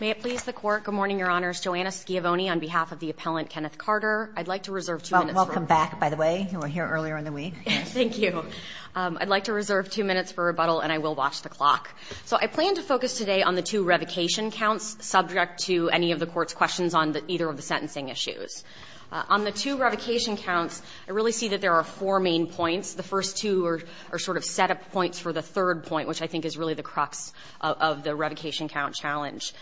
May it please the Court. Good morning, Your Honors. Joanna Schiavone on behalf of the appellant Kenneth Carter. I'd like to reserve two minutes for rebuttal. Well, welcome back, by the way. You were here earlier in the week. Thank you. I'd like to reserve two minutes for rebuttal, and I will watch the clock. So I plan to focus today on the two revocation counts subject to any of the Court's questions on either of the sentencing issues. On the two revocation counts, I really see that there are four main points. The first two are sort of set-up points for the third point, which I think is really the crux of the revocation count challenge.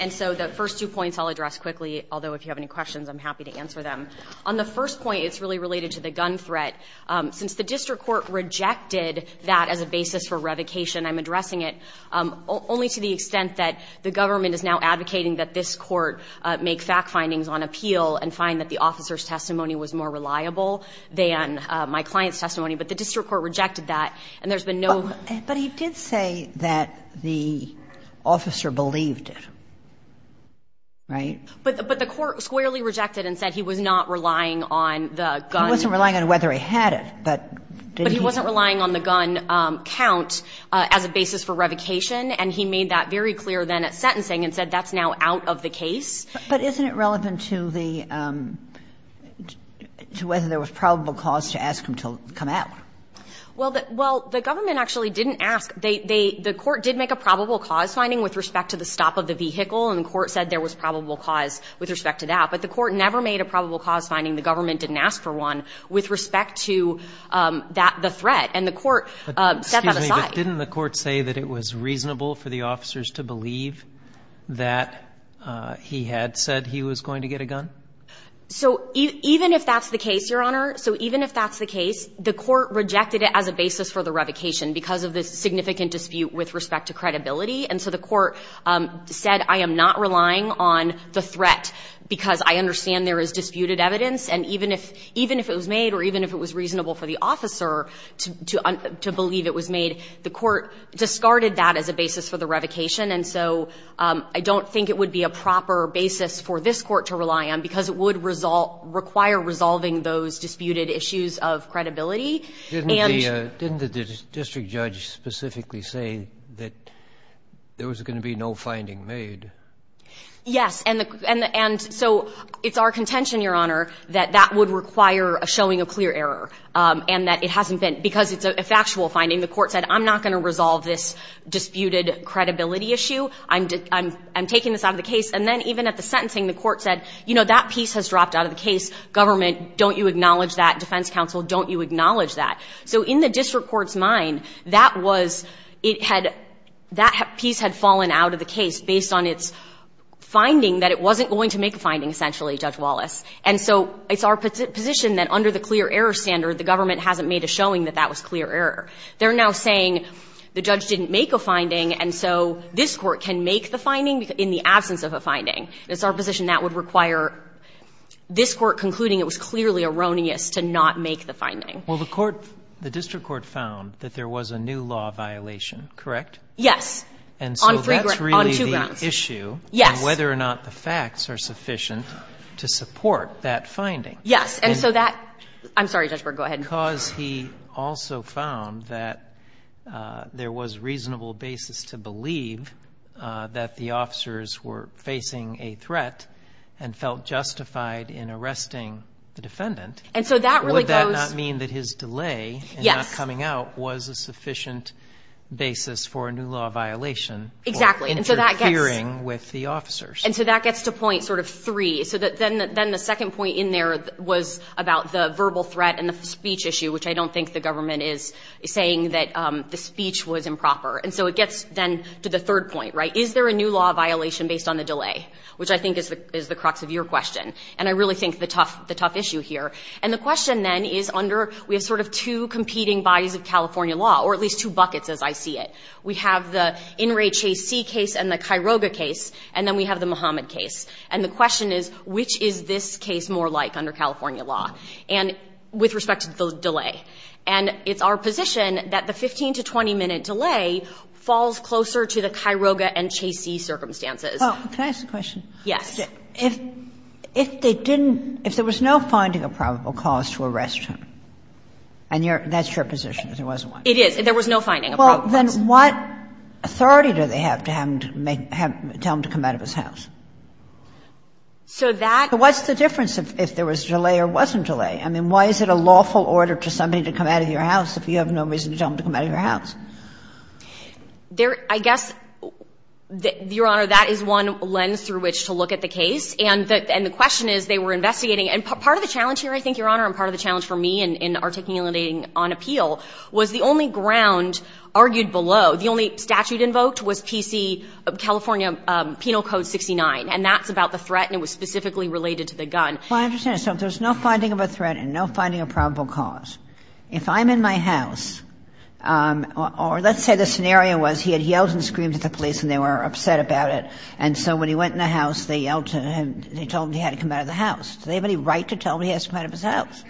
And so the first two points I'll address quickly, although if you have any questions, I'm happy to answer them. On the first point, it's really related to the gun threat. Since the district court rejected that as a basis for revocation, I'm addressing it only to the extent that the government is now advocating that this court make fact findings on appeal and find that the officer's testimony was more reliable than my client's testimony. But the district court rejected that, and there's been no. But he did say that the officer believed it, right? But the court squarely rejected and said he was not relying on the gun. He wasn't relying on whether he had it, but did he? But he wasn't relying on the gun count as a basis for revocation, and he made that very clear then at sentencing and said that's now out of the case. But isn't it relevant to the, to whether there was probable cause to ask him to come out? Well, the government actually didn't ask. They, the court did make a probable cause finding with respect to the stop of the vehicle, and the court said there was probable cause with respect to that. But the court never made a probable cause finding, the government didn't ask for one, with respect to that, the threat. And the court set that aside. But didn't the court say that it was reasonable for the officers to believe that he had said he was going to get a gun? So even if that's the case, Your Honor, so even if that's the case, the court rejected it as a basis for the revocation because of the significant dispute with respect to credibility. And so the court said, I am not relying on the threat because I understand there is disputed evidence, and even if, even if it was made or even if it was reasonable for the officer to, to, to believe it was made, the court discarded that as a basis for the revocation. And so I don't think it would be a proper basis for this Court to rely on because it would resolve, require resolving those disputed issues of credibility. And the Didn't the district judge specifically say that there was going to be no finding made? Yes, and the, and the, and so it's our contention, Your Honor, that that would require a showing of clear error, and that it hasn't been, because it's a factual finding. The court said, I'm not going to resolve this disputed credibility issue. I'm, I'm, I'm taking this out of the case. And then even at the sentencing, the court said, you know, that piece has dropped out of the case. Government, don't you acknowledge that? Defense counsel, don't you acknowledge that? So in the district court's mind, that was, it had, that piece had fallen out of the case based on its finding that it wasn't going to make a finding, essentially, Judge Wallace. And so it's our position that under the clear error standard, the government hasn't made a showing that that was clear error. They're now saying, the judge didn't make a finding, and so this court can make the finding in the absence of a finding. It's our position that would require this court concluding it was clearly erroneous to not make the finding. Well, the court, the district court found that there was a new law violation, And so that's really the issue. On three grounds, on two grounds. Yes. And whether or not the facts are sufficient to support that finding. Yes. And so that, I'm sorry, Judge Berg, go ahead. Because he also found that there was reasonable basis to believe that the officers were facing a threat and felt justified in arresting the defendant. And so that really goes. Would that not mean that his delay. Yes. In not coming out was a sufficient basis for a new law violation. Exactly. For interfering with the officers. And so that gets to point sort of three. So then the second point in there was about the verbal threat and the speech issue, which I don't think the government is saying that the speech was improper. And so it gets then to the third point, right? Is there a new law violation based on the delay? Which I think is the crux of your question. And I really think the tough issue here. And the question then is under, we have sort of two competing bodies of California law, or at least two buckets as I see it. We have the In re Chase C case and the Kiroga case, and then we have the Muhammad case. And the question is, which is this case more like under California law? And with respect to the delay. And it's our position that the 15 to 20-minute delay falls closer to the Kiroga and Chase C circumstances. Well, can I ask a question? Yes. If they didn't, if there was no finding of probable cause to arrest him, and that's your position, there wasn't one. It is. There was no finding of probable cause. Then what authority do they have to have him to make, tell him to come out of his house? So that's. What's the difference if there was delay or wasn't delay? I mean, why is it a lawful order to somebody to come out of your house if you have no reason to tell him to come out of your house? There, I guess, Your Honor, that is one lens through which to look at the case. And the question is, they were investigating. And part of the challenge here, I think, Your Honor, and part of the challenge for me in articulating on appeal was the only ground argued below, the only statute invoked was PC, California Penal Code 69. And that's about the threat, and it was specifically related to the gun. Well, I understand. So if there's no finding of a threat and no finding of probable cause, if I'm in my house, or let's say the scenario was he had yelled and screamed at the police and they were upset about it, and so when he went in the house, they yelled to him, they told him he had to come out of the house. Do they have any right to tell him he has to come out of his house?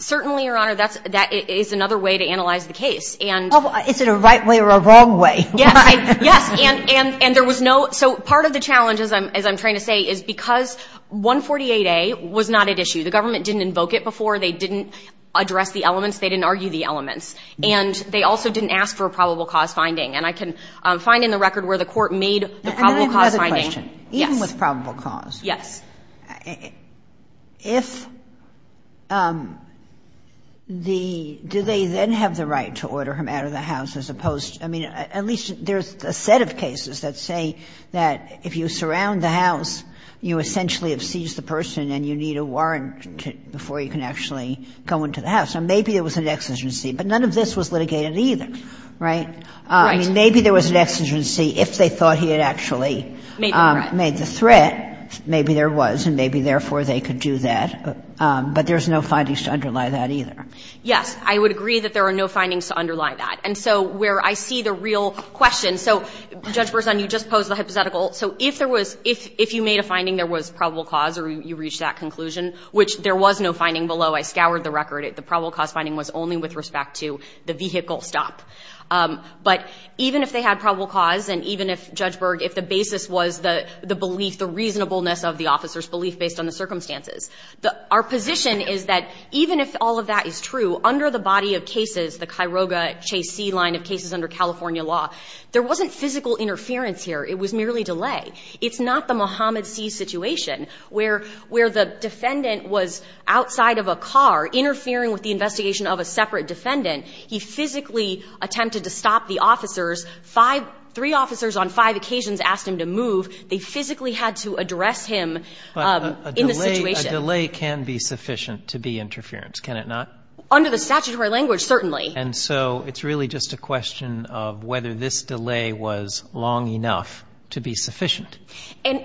Certainly, Your Honor, that is another way to analyze the case. Is it a right way or a wrong way? Yes. Yes. And there was no – so part of the challenge, as I'm trying to say, is because 148A was not at issue. The government didn't invoke it before. They didn't address the elements. They didn't argue the elements. And they also didn't ask for a probable cause finding. And I can find in the record where the Court made the probable cause finding. And I have another question. Yes. Even with probable cause. Yes. If the – do they then have the right to order him out of the house as opposed – I mean, at least there's a set of cases that say that if you surround the house, you essentially have seized the person and you need a warrant before you can actually go into the house. So maybe there was an exigency. But none of this was litigated either, right? Right. I mean, maybe there was an exigency if they thought he had actually made the threat. Maybe there was. And maybe, therefore, they could do that. But there's no findings to underlie that either. Yes. I would agree that there are no findings to underlie that. And so where I see the real question. So, Judge Berzon, you just posed the hypothetical. So if there was – if you made a finding there was probable cause or you reached that conclusion, which there was no finding below. I scoured the record. The probable cause finding was only with respect to the vehicle stop. But even if they had probable cause and even if, Judge Berg, if the basis was the belief, the reasonableness of the officer's belief based on the circumstances, our position is that even if all of that is true, under the body of cases, the Cairoga-Chase C line of cases under California law, there wasn't physical interference here. It was merely delay. It's not the Mohammed C situation where the defendant was outside of a car interfering with the investigation of a separate defendant. He physically attempted to stop the officers. Five – three officers on five occasions asked him to move. They physically had to address him in the situation. But a delay can be sufficient to be interference, can it not? Under the statutory language, certainly. And so it's really just a question of whether this delay was long enough to be sufficient. And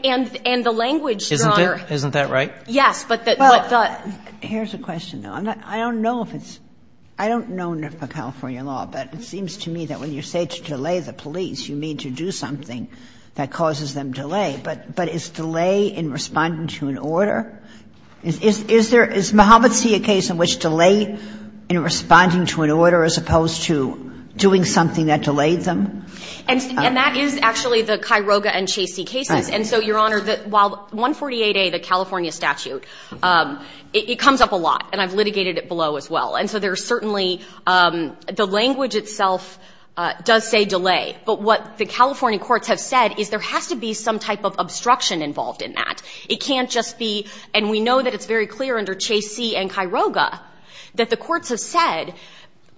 the language, Your Honor – Isn't it? Isn't that right? Yes, but the – Well, here's a question, though. I don't know if it's – I don't know enough about California law, but it seems to me that when you say to delay the police, you mean to do something that causes them delay, but is delay in responding to an order? Is there – is Mohammed C a case in which delay in responding to an order, as opposed to doing something that delayed them? And that is actually the Cairoga and Chase C cases. And so, Your Honor, while 148A, the California statute, it comes up a lot, and I've litigated it below as well. And so there's certainly – the language itself does say delay. But what the California courts have said is there has to be some type of obstruction involved in that. It can't just be – and we know that it's very clear under Chase C and Cairoga that the courts have said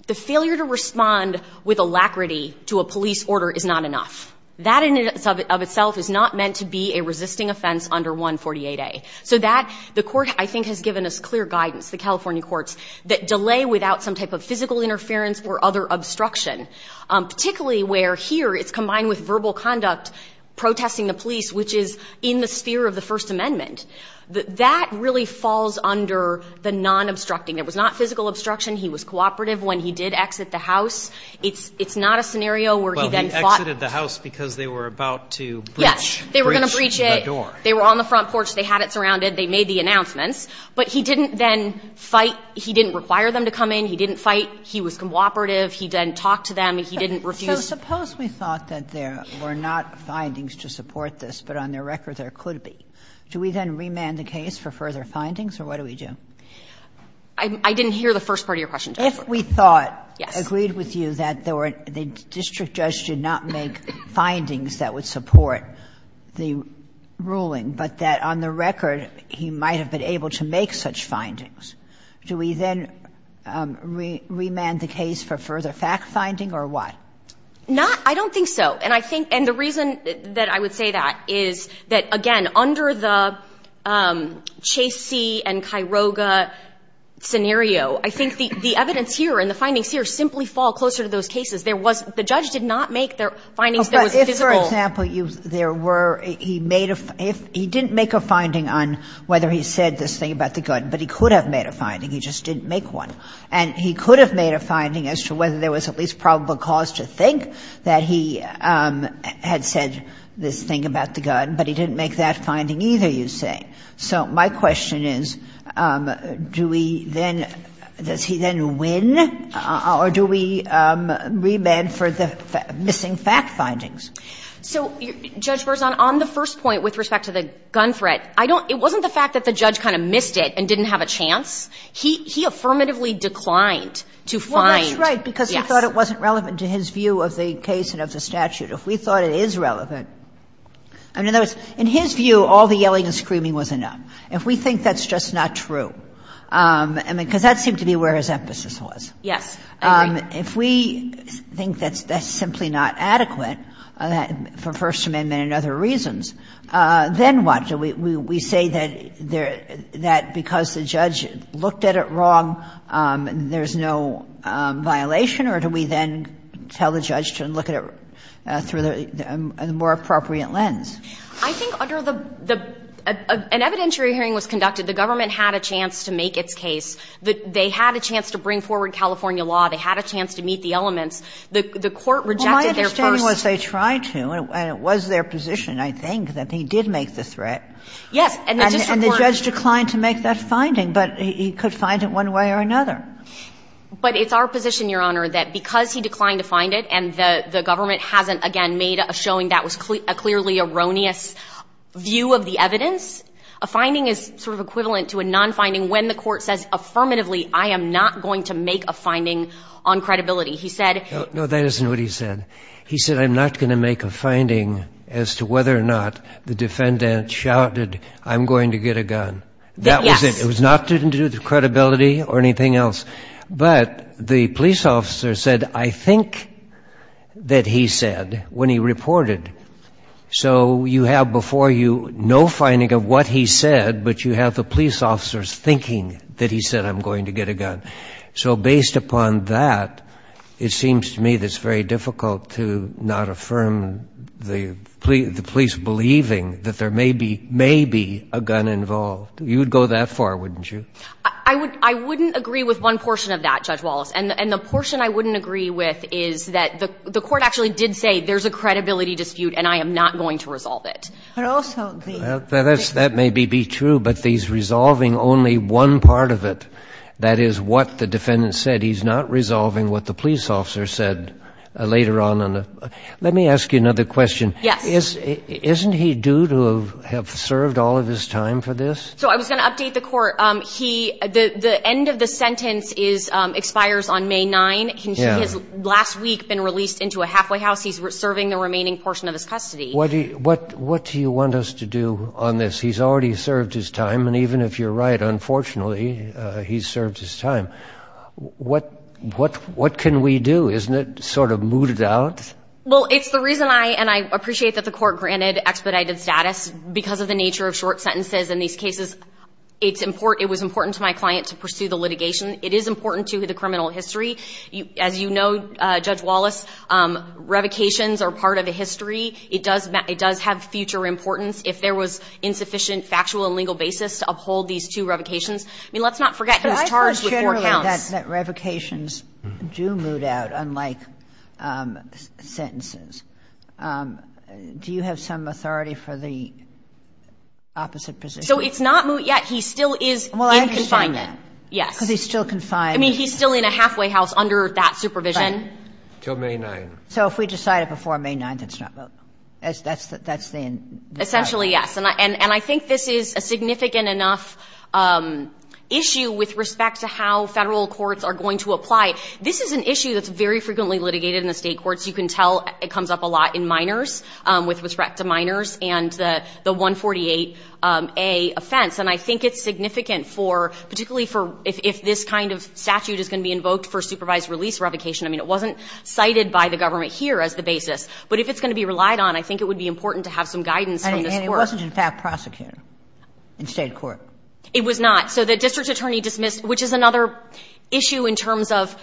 the failure to respond with alacrity to a police order is not enough. That in and of itself is not meant to be a resisting offense under 148A. So that – the Court, I think, has given us clear guidance, the California courts, that delay without some type of physical interference or other obstruction, particularly where here it's combined with verbal conduct, protesting the police, which is in the sphere of the First Amendment. That really falls under the non-obstructing. There was not physical obstruction. He was cooperative when he did exit the house. It's not a scenario where he then fought. But he exited the house because they were about to breach. Breach the door. They were going to breach it. They were on the front porch. They had it surrounded. They made the announcements. But he didn't then fight. He didn't require them to come in. He didn't fight. He was cooperative. He didn't talk to them. He didn't refuse. Kagan. So suppose we thought that there were not findings to support this, but on their record there could be. Do we then remand the case for further findings, or what do we do? I didn't hear the first part of your question, Justice Kagan. If we thought, agreed with you, that there were – the district judge did not make findings that would support the ruling, but that on their record he might have been able to make such findings, do we then remand the case for further fact-finding or what? Not – I don't think so. And I think – and the reason that I would say that is that, again, under the Chase C. and Kairoga scenario, I think the evidence here and the findings here simply fall closer to those cases. There was – the judge did not make the findings that was visible. But if, for example, there were – he made a – he didn't make a finding on whether he said this thing about the gun, but he could have made a finding. He just didn't make one. And he could have made a finding as to whether there was at least probable cause to think that he had said this thing about the gun, but he didn't make that finding either, you say. So my question is, do we then – does he then win, or do we remand for the missing fact findings? So, Judge Berzon, on the first point with respect to the gun threat, I don't – it wasn't the fact that the judge kind of missed it and didn't have a chance. He affirmatively declined to find, yes. Well, that's right, because he thought it wasn't relevant to his view of the case and of the statute. If we thought it is relevant – I mean, in other words, in his view, all the yelling and screaming was enough. If we think that's just not true – I mean, because that seemed to be where his emphasis was. Yes, I agree. If we think that's simply not adequate for First Amendment and other reasons, then what? Do we say that because the judge looked at it wrong, there's no violation, or do we then tell the judge to look at it through a more appropriate lens? I think under the – an evidentiary hearing was conducted. The government had a chance to make its case. They had a chance to bring forward California law. They had a chance to meet the elements. The court rejected their first – Well, my understanding was they tried to, and it was their position, I think, that he did make the threat. Yes. And the district court – And the judge declined to make that finding, but he could find it one way or another. But it's our position, Your Honor, that because he declined to find it and the government hasn't, again, made a showing that was a clearly erroneous view of the evidence, a finding is sort of equivalent to a non-finding when the court says affirmatively I am not going to make a finding on credibility. He said – No, that isn't what he said. He said I'm not going to make a finding as to whether or not the defendant shouted, I'm going to get a gun. That was it. Yes. It was not to do with credibility or anything else. But the police officer said I think that he said when he reported. So you have before you no finding of what he said, but you have the police officers thinking that he said I'm going to get a gun. So based upon that, it seems to me that it's very difficult to not affirm the police believing that there may be a gun involved. So you would go that far, wouldn't you? I wouldn't agree with one portion of that, Judge Wallace. And the portion I wouldn't agree with is that the court actually did say there's a credibility dispute and I am not going to resolve it. I also agree. That may be true, but he's resolving only one part of it. That is what the defendant said. He's not resolving what the police officer said later on. Let me ask you another question. Yes. Isn't he due to have served all of his time for this? So I was going to update the court. The end of the sentence expires on May 9th. He has last week been released into a halfway house. He's serving the remaining portion of his custody. What do you want us to do on this? He's already served his time, and even if you're right, unfortunately, he's served his time. What can we do? Isn't it sort of mooted out? Well, it's the reason I, and I appreciate that the court granted expedited status because of the nature of short sentences in these cases. It's important, it was important to my client to pursue the litigation. It is important to the criminal history. As you know, Judge Wallace, revocations are part of the history. It does have future importance. If there was insufficient factual and legal basis to uphold these two revocations, I mean, let's not forget he was charged with four counts. That revocations do moot out, unlike sentences. Do you have some authority for the opposite position? So it's not moot yet. He still is in confinement. Well, I understand that. Yes. Because he's still confined. I mean, he's still in a halfway house under that supervision. Right. Until May 9th. So if we decide it before May 9th, it's not moot. That's the end. Essentially, yes. And I think this is a significant enough issue with respect to how Federal courts are going to apply it. This is an issue that's very frequently litigated in the State courts. You can tell it comes up a lot in minors, with respect to minors and the 148A offense. And I think it's significant for, particularly for if this kind of statute is going to be invoked for supervised release revocation. I mean, it wasn't cited by the government here as the basis. But if it's going to be relied on, I think it would be important to have some guidance from this Court. And it wasn't, in fact, prosecuted in State court. It was not. So the district attorney dismissed, which is another issue in terms of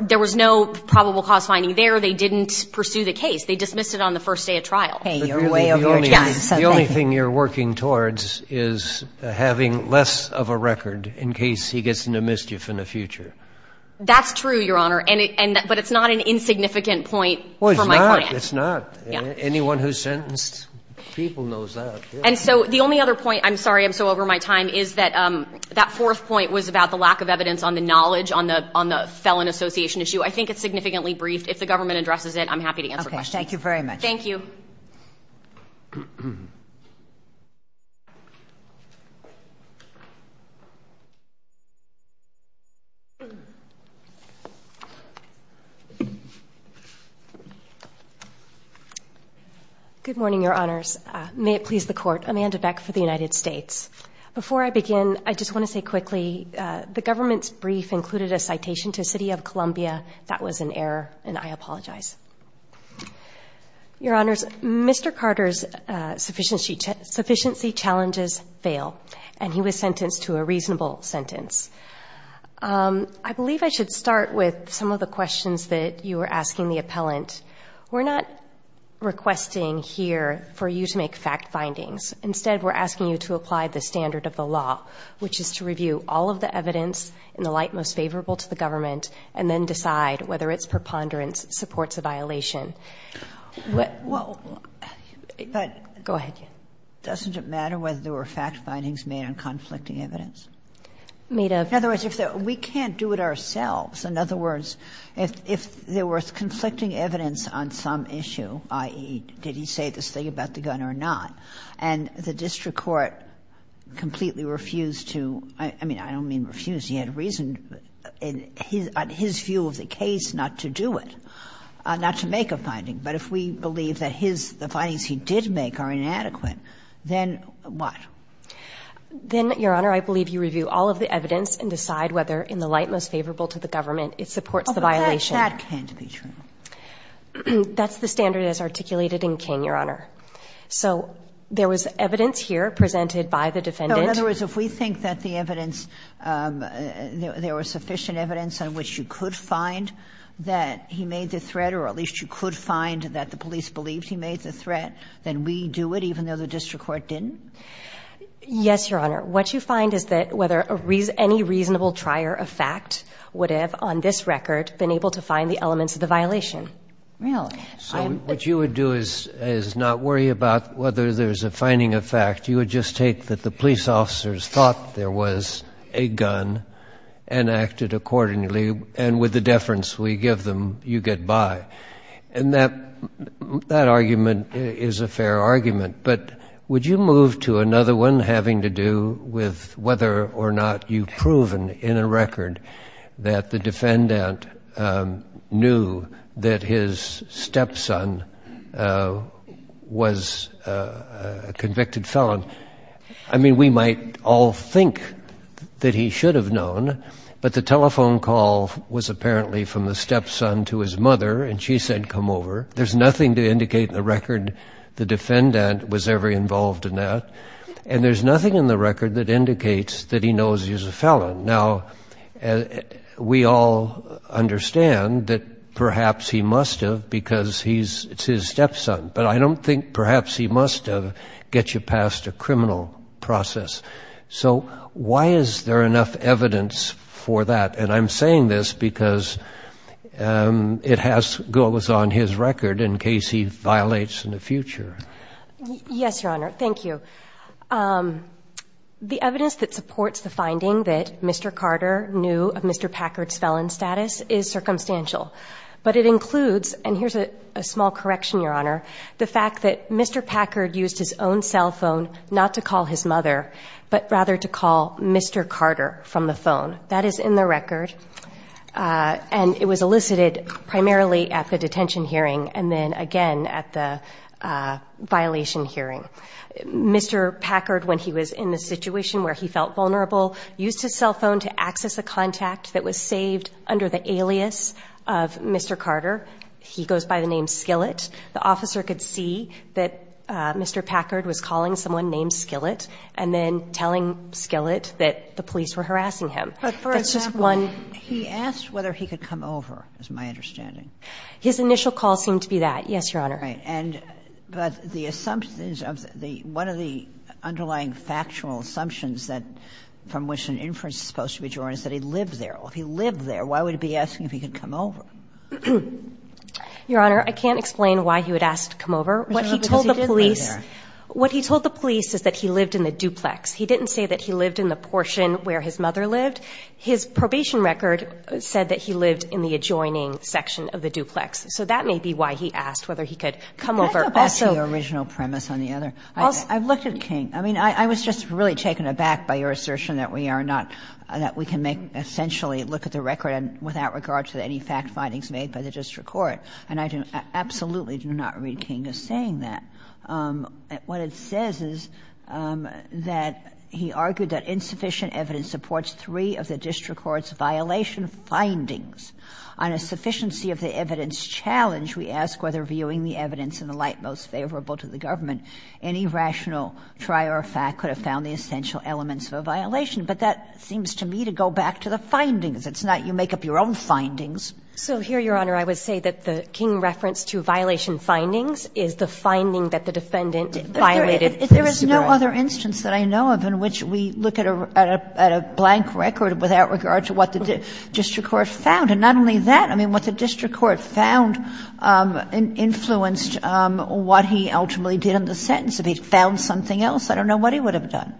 there was no probable cause finding there. They didn't pursue the case. They dismissed it on the first day of trial. Okay. Your way of judging something. The only thing you're working towards is having less of a record in case he gets into mischief in the future. That's true, Your Honor. But it's not an insignificant point for my client. Well, it's not. It's not. Anyone who's sentenced, people knows that. And so the only other point, I'm sorry I'm so over my time, is that that fourth point was about the lack of evidence on the knowledge on the felon association issue. I think it's significantly briefed. If the government addresses it, I'm happy to answer questions. Thank you very much. Good morning, Your Honors. May it please the court. Amanda Beck for the United States. Before I begin, I just want to say quickly, the government's brief included a citation to City of Columbia. That was an error, and I apologize. Your Honors, Mr. Carter's sufficiency challenges fail. And he was sentenced to a reasonable sentence. I believe I should start with some of the questions that you were asking the appellant. We're not requesting here for you to make fact findings. Instead, we're asking you to apply the standard of the law, which is to review all of the evidence in the light most favorable to the government, and then to make a decision. And I think that's a violation. Well, but go ahead. Doesn't it matter whether there were fact findings made on conflicting evidence? Made of? In other words, we can't do it ourselves. In other words, if there was conflicting evidence on some issue, i.e., did he say this thing about the gun or not, and the district court completely refused to, I mean, I don't mean refused. Because he had reason in his view of the case not to do it, not to make a finding. But if we believe that his, the findings he did make are inadequate, then what? Then, Your Honor, I believe you review all of the evidence and decide whether in the light most favorable to the government it supports the violation. Oh, but that can't be true. That's the standard as articulated in King, Your Honor. So there was evidence here presented by the defendant. No, in other words, if we think that the evidence, there was sufficient evidence on which you could find that he made the threat or at least you could find that the police believed he made the threat, then we do it even though the district court didn't? Yes, Your Honor. What you find is that whether any reasonable trier of fact would have on this record been able to find the elements of the violation. Really? So what you would do is not worry about whether there's a finding of fact. You would just take that the police officers thought there was a gun and acted accordingly, and with the deference we give them, you get by. And that argument is a fair argument. But would you move to another one having to do with whether or not you've proven in a record that the defendant knew that his stepson was a convicted felon? I mean, we might all think that he should have known, but the telephone call was apparently from the stepson to his mother, and she said, come over. There's nothing to indicate in the record the defendant was ever involved in that, and there's nothing in the record that indicates that he knows he's a felon. Now, we all understand that perhaps he must have because he's his stepson, but I don't think perhaps he must have get you past a criminal process. So why is there enough evidence for that? And I'm saying this because it has to go on his record in case he violates in the future. Yes, Your Honor. Thank you. The evidence that supports the finding that Mr. Carter knew of Mr. Packard's felon status is circumstantial, but it includes, and here's a small correction, Your Honor, the fact that Mr. Packard used his own cell phone not to call his mother, but rather to call Mr. Carter from the phone. That is in the record, and it was elicited primarily at the detention hearing and then again at the violation hearing. Mr. Packard, when he was in the situation where he felt vulnerable, used his cell phone to access a contact that was saved under the alias of Mr. Carter. He goes by the name Skillett. The officer could see that Mr. Packard was calling someone named Skillett and then telling Skillett that the police were harassing him. But for example, he asked whether he could come over is my understanding. His initial call seemed to be that. Yes, Your Honor. Right. And but the assumptions of the one of the underlying factual assumptions that from which an inference is supposed to be drawn is that he lived there. If he lived there, why would he be asking if he could come over? Your Honor, I can't explain why he would ask to come over. What he told the police. Because he didn't live there. What he told the police is that he lived in the duplex. He didn't say that he lived in the portion where his mother lived. His probation record said that he lived in the adjoining section of the duplex. So that may be why he asked whether he could come over also. Can I go back to the original premise on the other? I've looked at King. I mean, I was just really taken aback by your assertion that we are not, that we can make essentially look at the record without regard to any fact findings made by the district court. And I absolutely do not read King as saying that. What it says is that he argued that insufficient evidence supports three of the district court's violation findings. On a sufficiency of the evidence challenge, we ask whether viewing the evidence in the light most favorable to the government, any rational trier of fact could have found the essential elements of a violation. But that seems to me to go back to the findings. It's not you make up your own findings. So here, Your Honor, I would say that the King reference to violation findings is the finding that the defendant violated. Kagan. There is no other instance that I know of in which we look at a blank record without regard to what the district court found. And not only that, I mean, what the district court found influenced what he ultimately did in the sentence. If he found something else, I don't know what he would have done.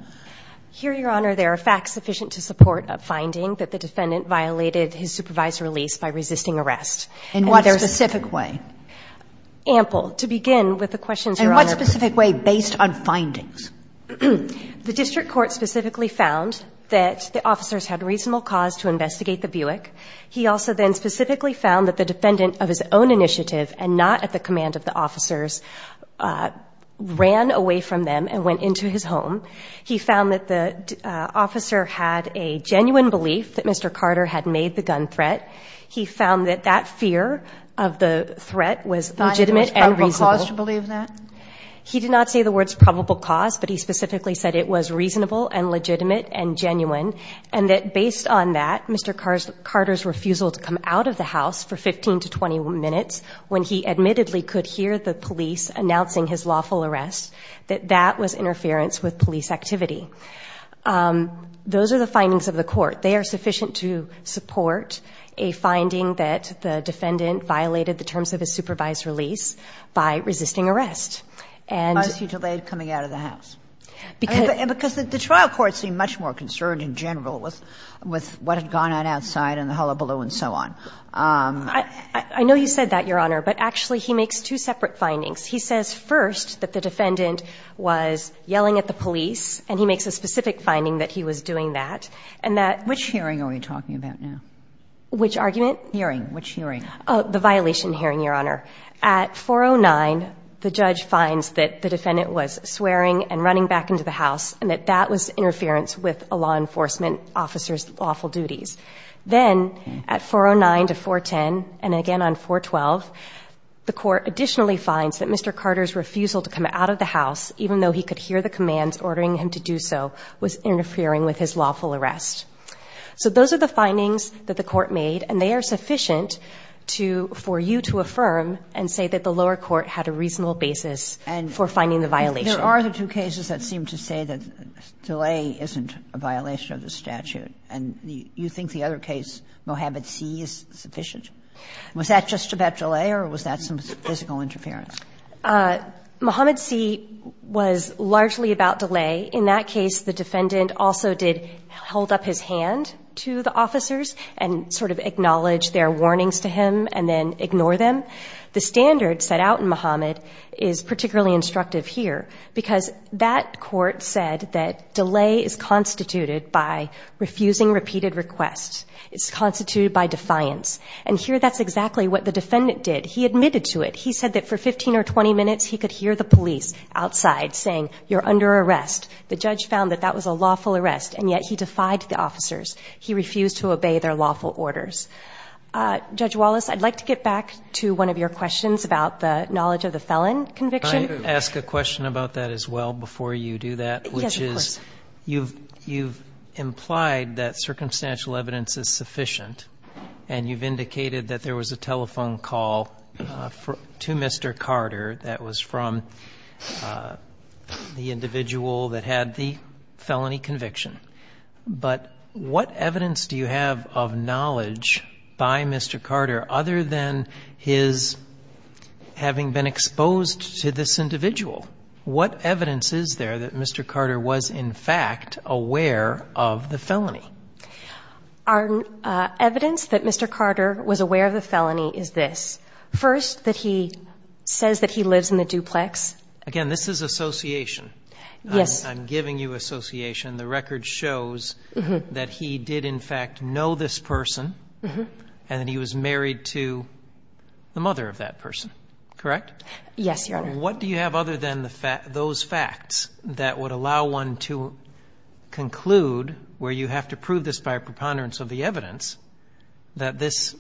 Here, Your Honor, there are facts sufficient to support a finding that the defendant violated his supervisory lease by resisting arrest. In what specific way? Ample. To begin with the questions, Your Honor. And what specific way based on findings? The district court specifically found that the officers had reasonable cause to investigate the Buick. He also then specifically found that the defendant of his own initiative and not at the command of the officers ran away from them and went into his home. He found that the officer had a genuine belief that Mr. Carter had made the gun threat. He found that that fear of the threat was legitimate and reasonable. He did not say the words probable cause, but he specifically said it was reasonable and legitimate and genuine, and that based on that, Mr. Carter's refusal to come out of the house for 15 to 20 minutes when he admittedly could hear the police announcing his lawful arrest, that that was interference with police activity. Those are the findings of the court. They are sufficient to support a finding that the defendant violated the terms of his supervisory lease by resisting arrest. And the trial court seemed much more concerned in general with what had gone on outside in the hullabaloo and so on. I know you said that, Your Honor, but actually he makes two separate findings. He says first that the defendant was yelling at the police, and he makes a specific finding that he was doing that, and that- Which hearing are we talking about now? Which argument? Hearing. Which hearing? The violation hearing, Your Honor. At 409, the judge finds that the defendant was swearing and running back into the house and that that was interference with a law enforcement officer's lawful duties. Then at 409 to 410, and again on 412, the court additionally finds that Mr. Carter's refusal to come out of the house, even though he could hear the commands ordering him to do so, was interfering with his lawful arrest. So those are the findings that the court made, and they are sufficient to for you to affirm and say that the lower court had a reasonable basis for finding the violation. And there are the two cases that seem to say that delay isn't a violation of the statute, and you think the other case, Mohamed C., is sufficient. Was that just about delay or was that some physical interference? Mohamed C. was largely about delay. In that case, the defendant also did hold up his hand to the officers and sort of acknowledge their warnings to him and then ignore them. The standard set out in Mohamed is particularly instructive here because that court said that delay is constituted by refusing repeated requests. It's constituted by defiance. And here that's exactly what the defendant did. He admitted to it. He said that for 15 or 20 minutes he could hear the police outside saying, you're under arrest. The judge found that that was a lawful arrest, and yet he defied the officers. He refused to obey their lawful orders. Judge Wallace, I'd like to get back to one of your questions about the knowledge of the felon conviction. Can I ask a question about that as well before you do that? Yes, of course. You've implied that circumstantial evidence is sufficient, and you've indicated that there was a telephone call to Mr. Carter that was from the individual that had the felony conviction. But what evidence do you have of knowledge by Mr. Carter other than his having been exposed to this individual? What evidence is there that Mr. Carter was, in fact, aware of the felony? Our evidence that Mr. Carter was aware of the felony is this. First, that he says that he lives in the duplex. Again, this is association. Yes. I'm giving you association. The record shows that he did, in fact, know this person and that he was married to the mother of that person, correct? Yes, Your Honor. What do you have other than those facts that would allow one to conclude where you have to prove this by a preponderance of the evidence that this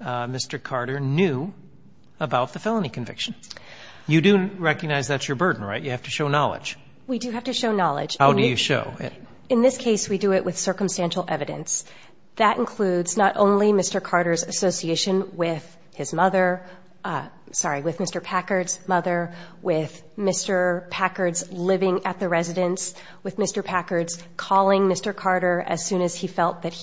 Mr. Carter knew about the felony conviction? You do recognize that's your burden, right? You have to show knowledge. We do have to show knowledge. How do you show it? In this case, we do it with circumstantial evidence. That includes not only Mr. Carter's association with his mother, sorry, with Mr. Packard's mother, with Mr. Packard's living at the residence, with Mr. Packard's mother, with Mr. Packard's mother, with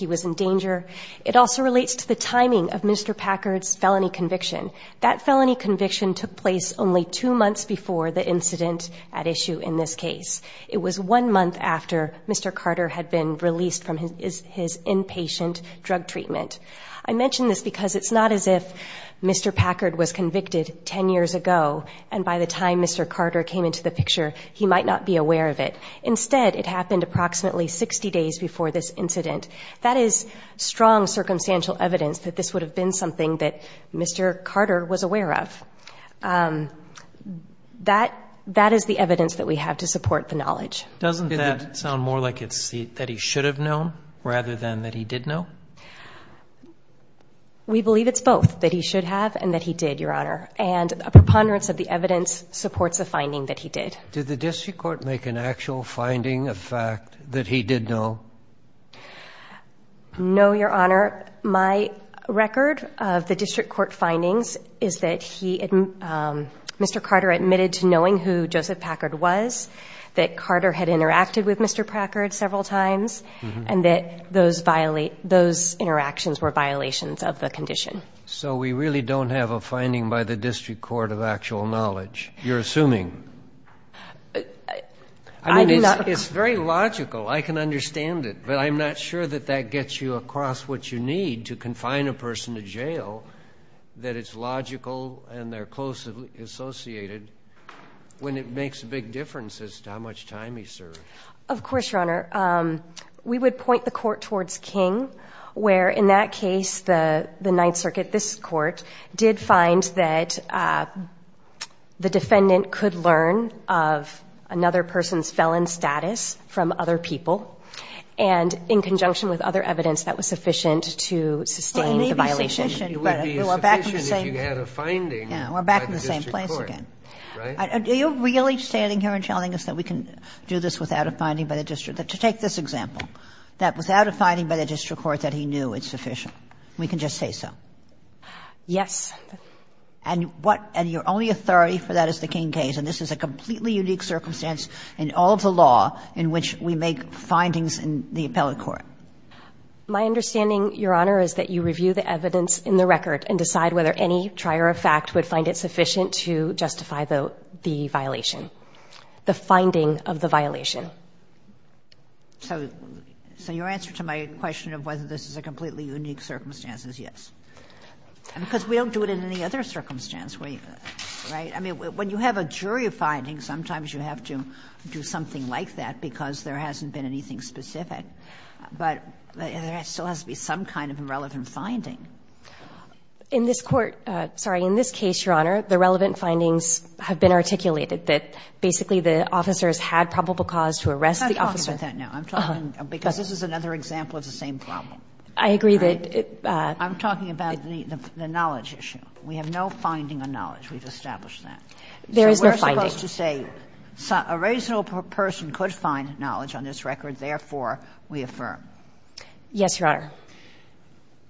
Mr. Packard's mother. It also relates to the timing of Mr. Packard's felony conviction. That felony conviction took place only two months before the incident at issue in this case. It was one month after Mr. Carter had been released from his inpatient drug treatment. I mention this because it's not as if Mr. Packard was convicted 10 years ago, and by the time Mr. Carter came into the picture, he might not be aware of it. Instead, it happened approximately 60 days before this incident. That is strong circumstantial evidence that this would have been something that Mr. Carter was aware of. That is the evidence that we have to support the knowledge. Doesn't that sound more like it's that he should have known rather than that he did know? We believe it's both, that he should have and that he did, Your Honor. And a preponderance of the evidence supports the finding that he did. Did the district court make an actual finding of fact that he did know? No, Your Honor. My record of the district court findings is that Mr. Carter admitted to knowing who Joseph Packard was, that Carter had interacted with Mr. Packard several times, and that those interactions were violations of the condition. So we really don't have a finding by the district court of actual knowledge, you're assuming? It's very logical. I can understand it, but I'm not sure that that gets you across what you need to confine a person to jail, that it's logical and they're closely associated when it makes a big difference as to how much time he served. Of course, Your Honor. We would point the court towards King, where in that case, the Ninth Circuit, this court, did find that the defendant could learn of another person's felon status from other people, and in conjunction with other evidence that was sufficient Well, it may be sufficient, but it would be sufficient if you had a finding by the district court. Yeah, we're back in the same place again. Right? Are you really standing here and telling us that we can do this without a finding by the district? To take this example, that without a finding by the district court that he knew it's sufficient. We can just say so. Yes. And what, and your only authority for that is the King case, and this is a completely unique circumstance in all of the law in which we make findings in the appellate court. My understanding, Your Honor, is that you review the evidence in the record and decide whether any trier of fact would find it sufficient to justify the violation, the finding of the violation. So your answer to my question of whether this is a completely unique circumstance is yes, because we don't do it in any other circumstance, right? I mean, when you have a jury finding, sometimes you have to do something like that because there hasn't been anything specific, but there still has to be some kind of irrelevant finding. In this court, sorry, in this case, Your Honor, the relevant findings have been articulated that basically the officers had probable cause to arrest the officer. I'm not talking about that now. I'm talking because this is another example of the same problem. I agree that it ---- I'm talking about the knowledge issue. We have no finding of knowledge. We've established that. There is no finding. So we're supposed to say a reasonable person could find knowledge on this record, therefore we affirm. Yes, Your Honor.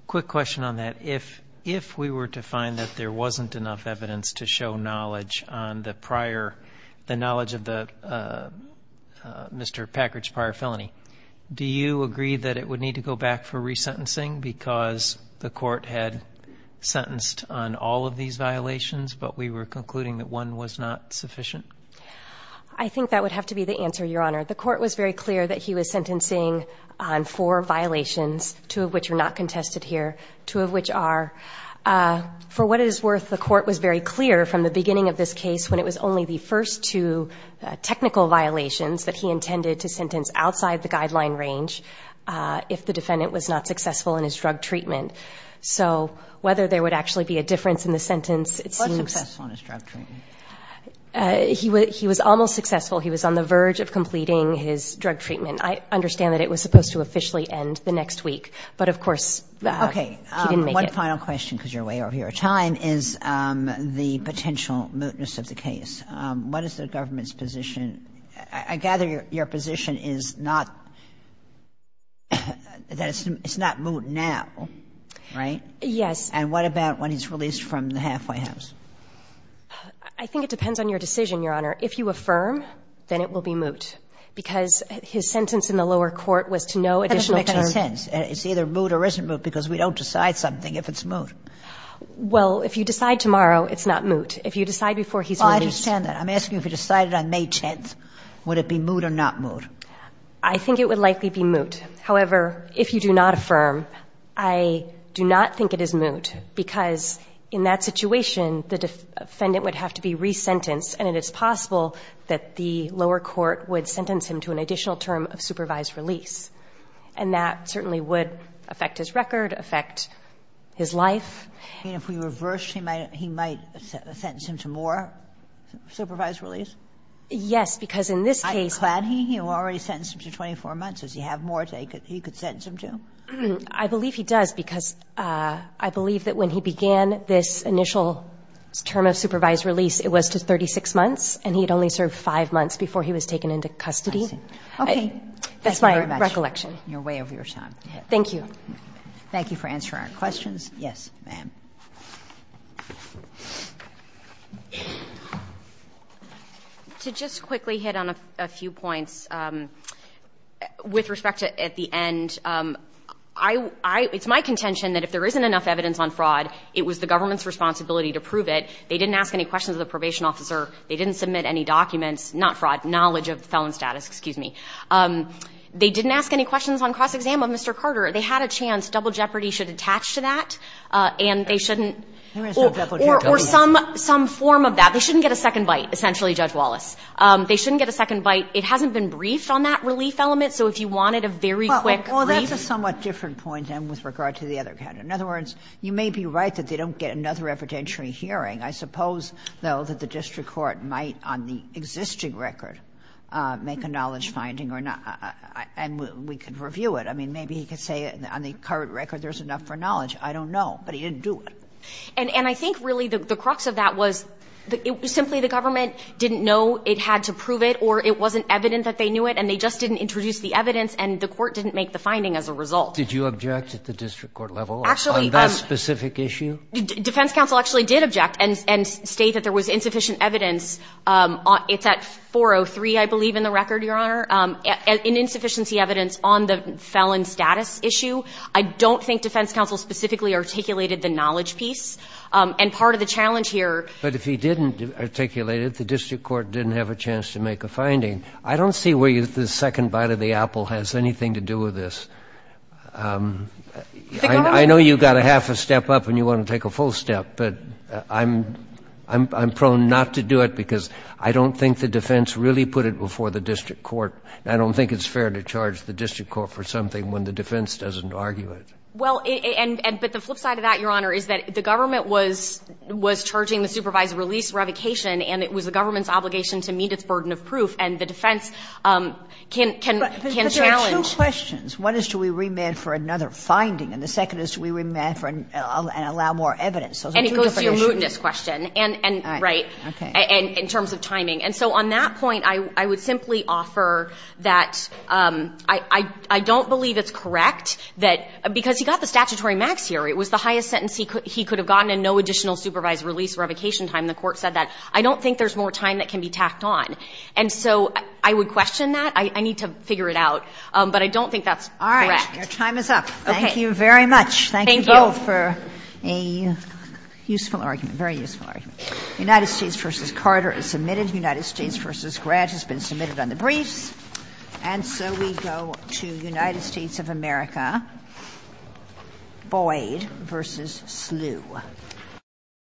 Quick question on that. If we were to find that there wasn't enough evidence to show knowledge on the prior the knowledge of the Mr. Packard's prior felony, do you agree that it would need to go back for resentencing because the court had sentenced on all of these violations, but we were concluding that one was not sufficient? I think that would have to be the answer, Your Honor. The court was very clear that he was sentencing on four violations, two of which are not contested here, two of which are. For what it is worth, the court was very clear from the beginning of this case when it was only the first two technical violations that he intended to sentence outside the guideline range if the defendant was not successful in his drug treatment. So whether there would actually be a difference in the sentence, it seems. Was successful in his drug treatment. He was almost successful. He was on the verge of completing his drug treatment. I understand that it was supposed to officially end the next week, but, of course, he didn't make it. Okay. One final question because you're way over your time is the potential mootness of the case. What is the government's position? I gather your position is not that it's not moot now, right? Yes. And what about when he's released from the halfway house? I think it depends on your decision, Your Honor. If you affirm, then it will be moot because his sentence in the lower court was to no additional penalty. That doesn't make any sense. It's either moot or isn't moot because we don't decide something if it's moot. Well, if you decide tomorrow, it's not moot. If you decide before he's released. Well, I understand that. I'm asking if you decided on May 10th, would it be moot or not moot? I think it would likely be moot. However, if you do not affirm, I do not think it is moot because in that situation the defendant would have to be resentenced and it is possible that the lower court would sentence him to an additional term of supervised release. And that certainly would affect his record, affect his life. If we reverse, he might sentence him to more supervised release? Yes, because in this case. Are you glad he already sentenced him to 24 months? Does he have more that he could sentence him to? I believe he does because I believe that when he began this initial term of supervised release, it was to 36 months, and he had only served 5 months before he was taken into custody. Okay. That's my recollection. Thank you very much. You're way over your time. Thank you. Thank you for answering our questions. Yes, ma'am. To just quickly hit on a few points, with respect to at the end, I, I, it's my contention that if there isn't enough evidence on fraud, it was the government's responsibility to prove it. They didn't ask any questions of the probation officer. They didn't submit any documents, not fraud, knowledge of the felon status, excuse me. They didn't ask any questions on cross-exam of Mr. Carter. They had a chance. Double Jeopardy should attach to that, and they shouldn't. Or some, some form of that. They shouldn't get a second bite, essentially, Judge Wallace. They shouldn't get a second bite. It hasn't been briefed on that relief element. So if you wanted a very quick briefing. Well, that's a somewhat different point, then, with regard to the other counter. In other words, you may be right that they don't get another evidentiary hearing. I suppose, though, that the district court might, on the existing record, make a knowledge finding or not. And we could review it. I mean, maybe he could say on the current record there's enough for knowledge. I don't know. But he didn't do it. And I think, really, the crux of that was simply the government didn't know it had to prove it, or it wasn't evident that they knew it. And they just didn't introduce the evidence, and the court didn't make the finding as a result. Did you object at the district court level on that specific issue? Defense counsel actually did object and state that there was insufficient evidence. It's at 403, I believe, in the record, Your Honor. In insufficiency evidence on the felon status issue. I don't think defense counsel specifically articulated the knowledge piece. And part of the challenge here. But if he didn't articulate it, the district court didn't have a chance to make a finding. I don't see where the second bite of the apple has anything to do with this. I know you've got a half a step up and you want to take a full step. But I'm prone not to do it because I don't think the defense really put it before the district court. I don't think it's fair to charge the district court for something when the defense doesn't argue it. Well, but the flip side of that, Your Honor, is that the government was charging the supervisor release, revocation, and it was the government's obligation to meet its burden of proof. And the defense can challenge. But there are two questions. One is do we remand for another finding? And the second is do we remand and allow more evidence? Those are two different issues. And it goes to your mootness question. Right. Okay. In terms of timing. And so on that point, I would simply offer that I don't believe it's correct that, because he got the statutory max here. It was the highest sentence he could have gotten and no additional supervised release, revocation time. The Court said that. I don't think there's more time that can be tacked on. And so I would question that. I need to figure it out. But I don't think that's correct. All right. Your time is up. Thank you very much. Thank you both for a useful argument, very useful argument. United States v. Carter is submitted. United States v. Gratz has been submitted on the briefs. And so we go to United States of America, Boyd v. Slough.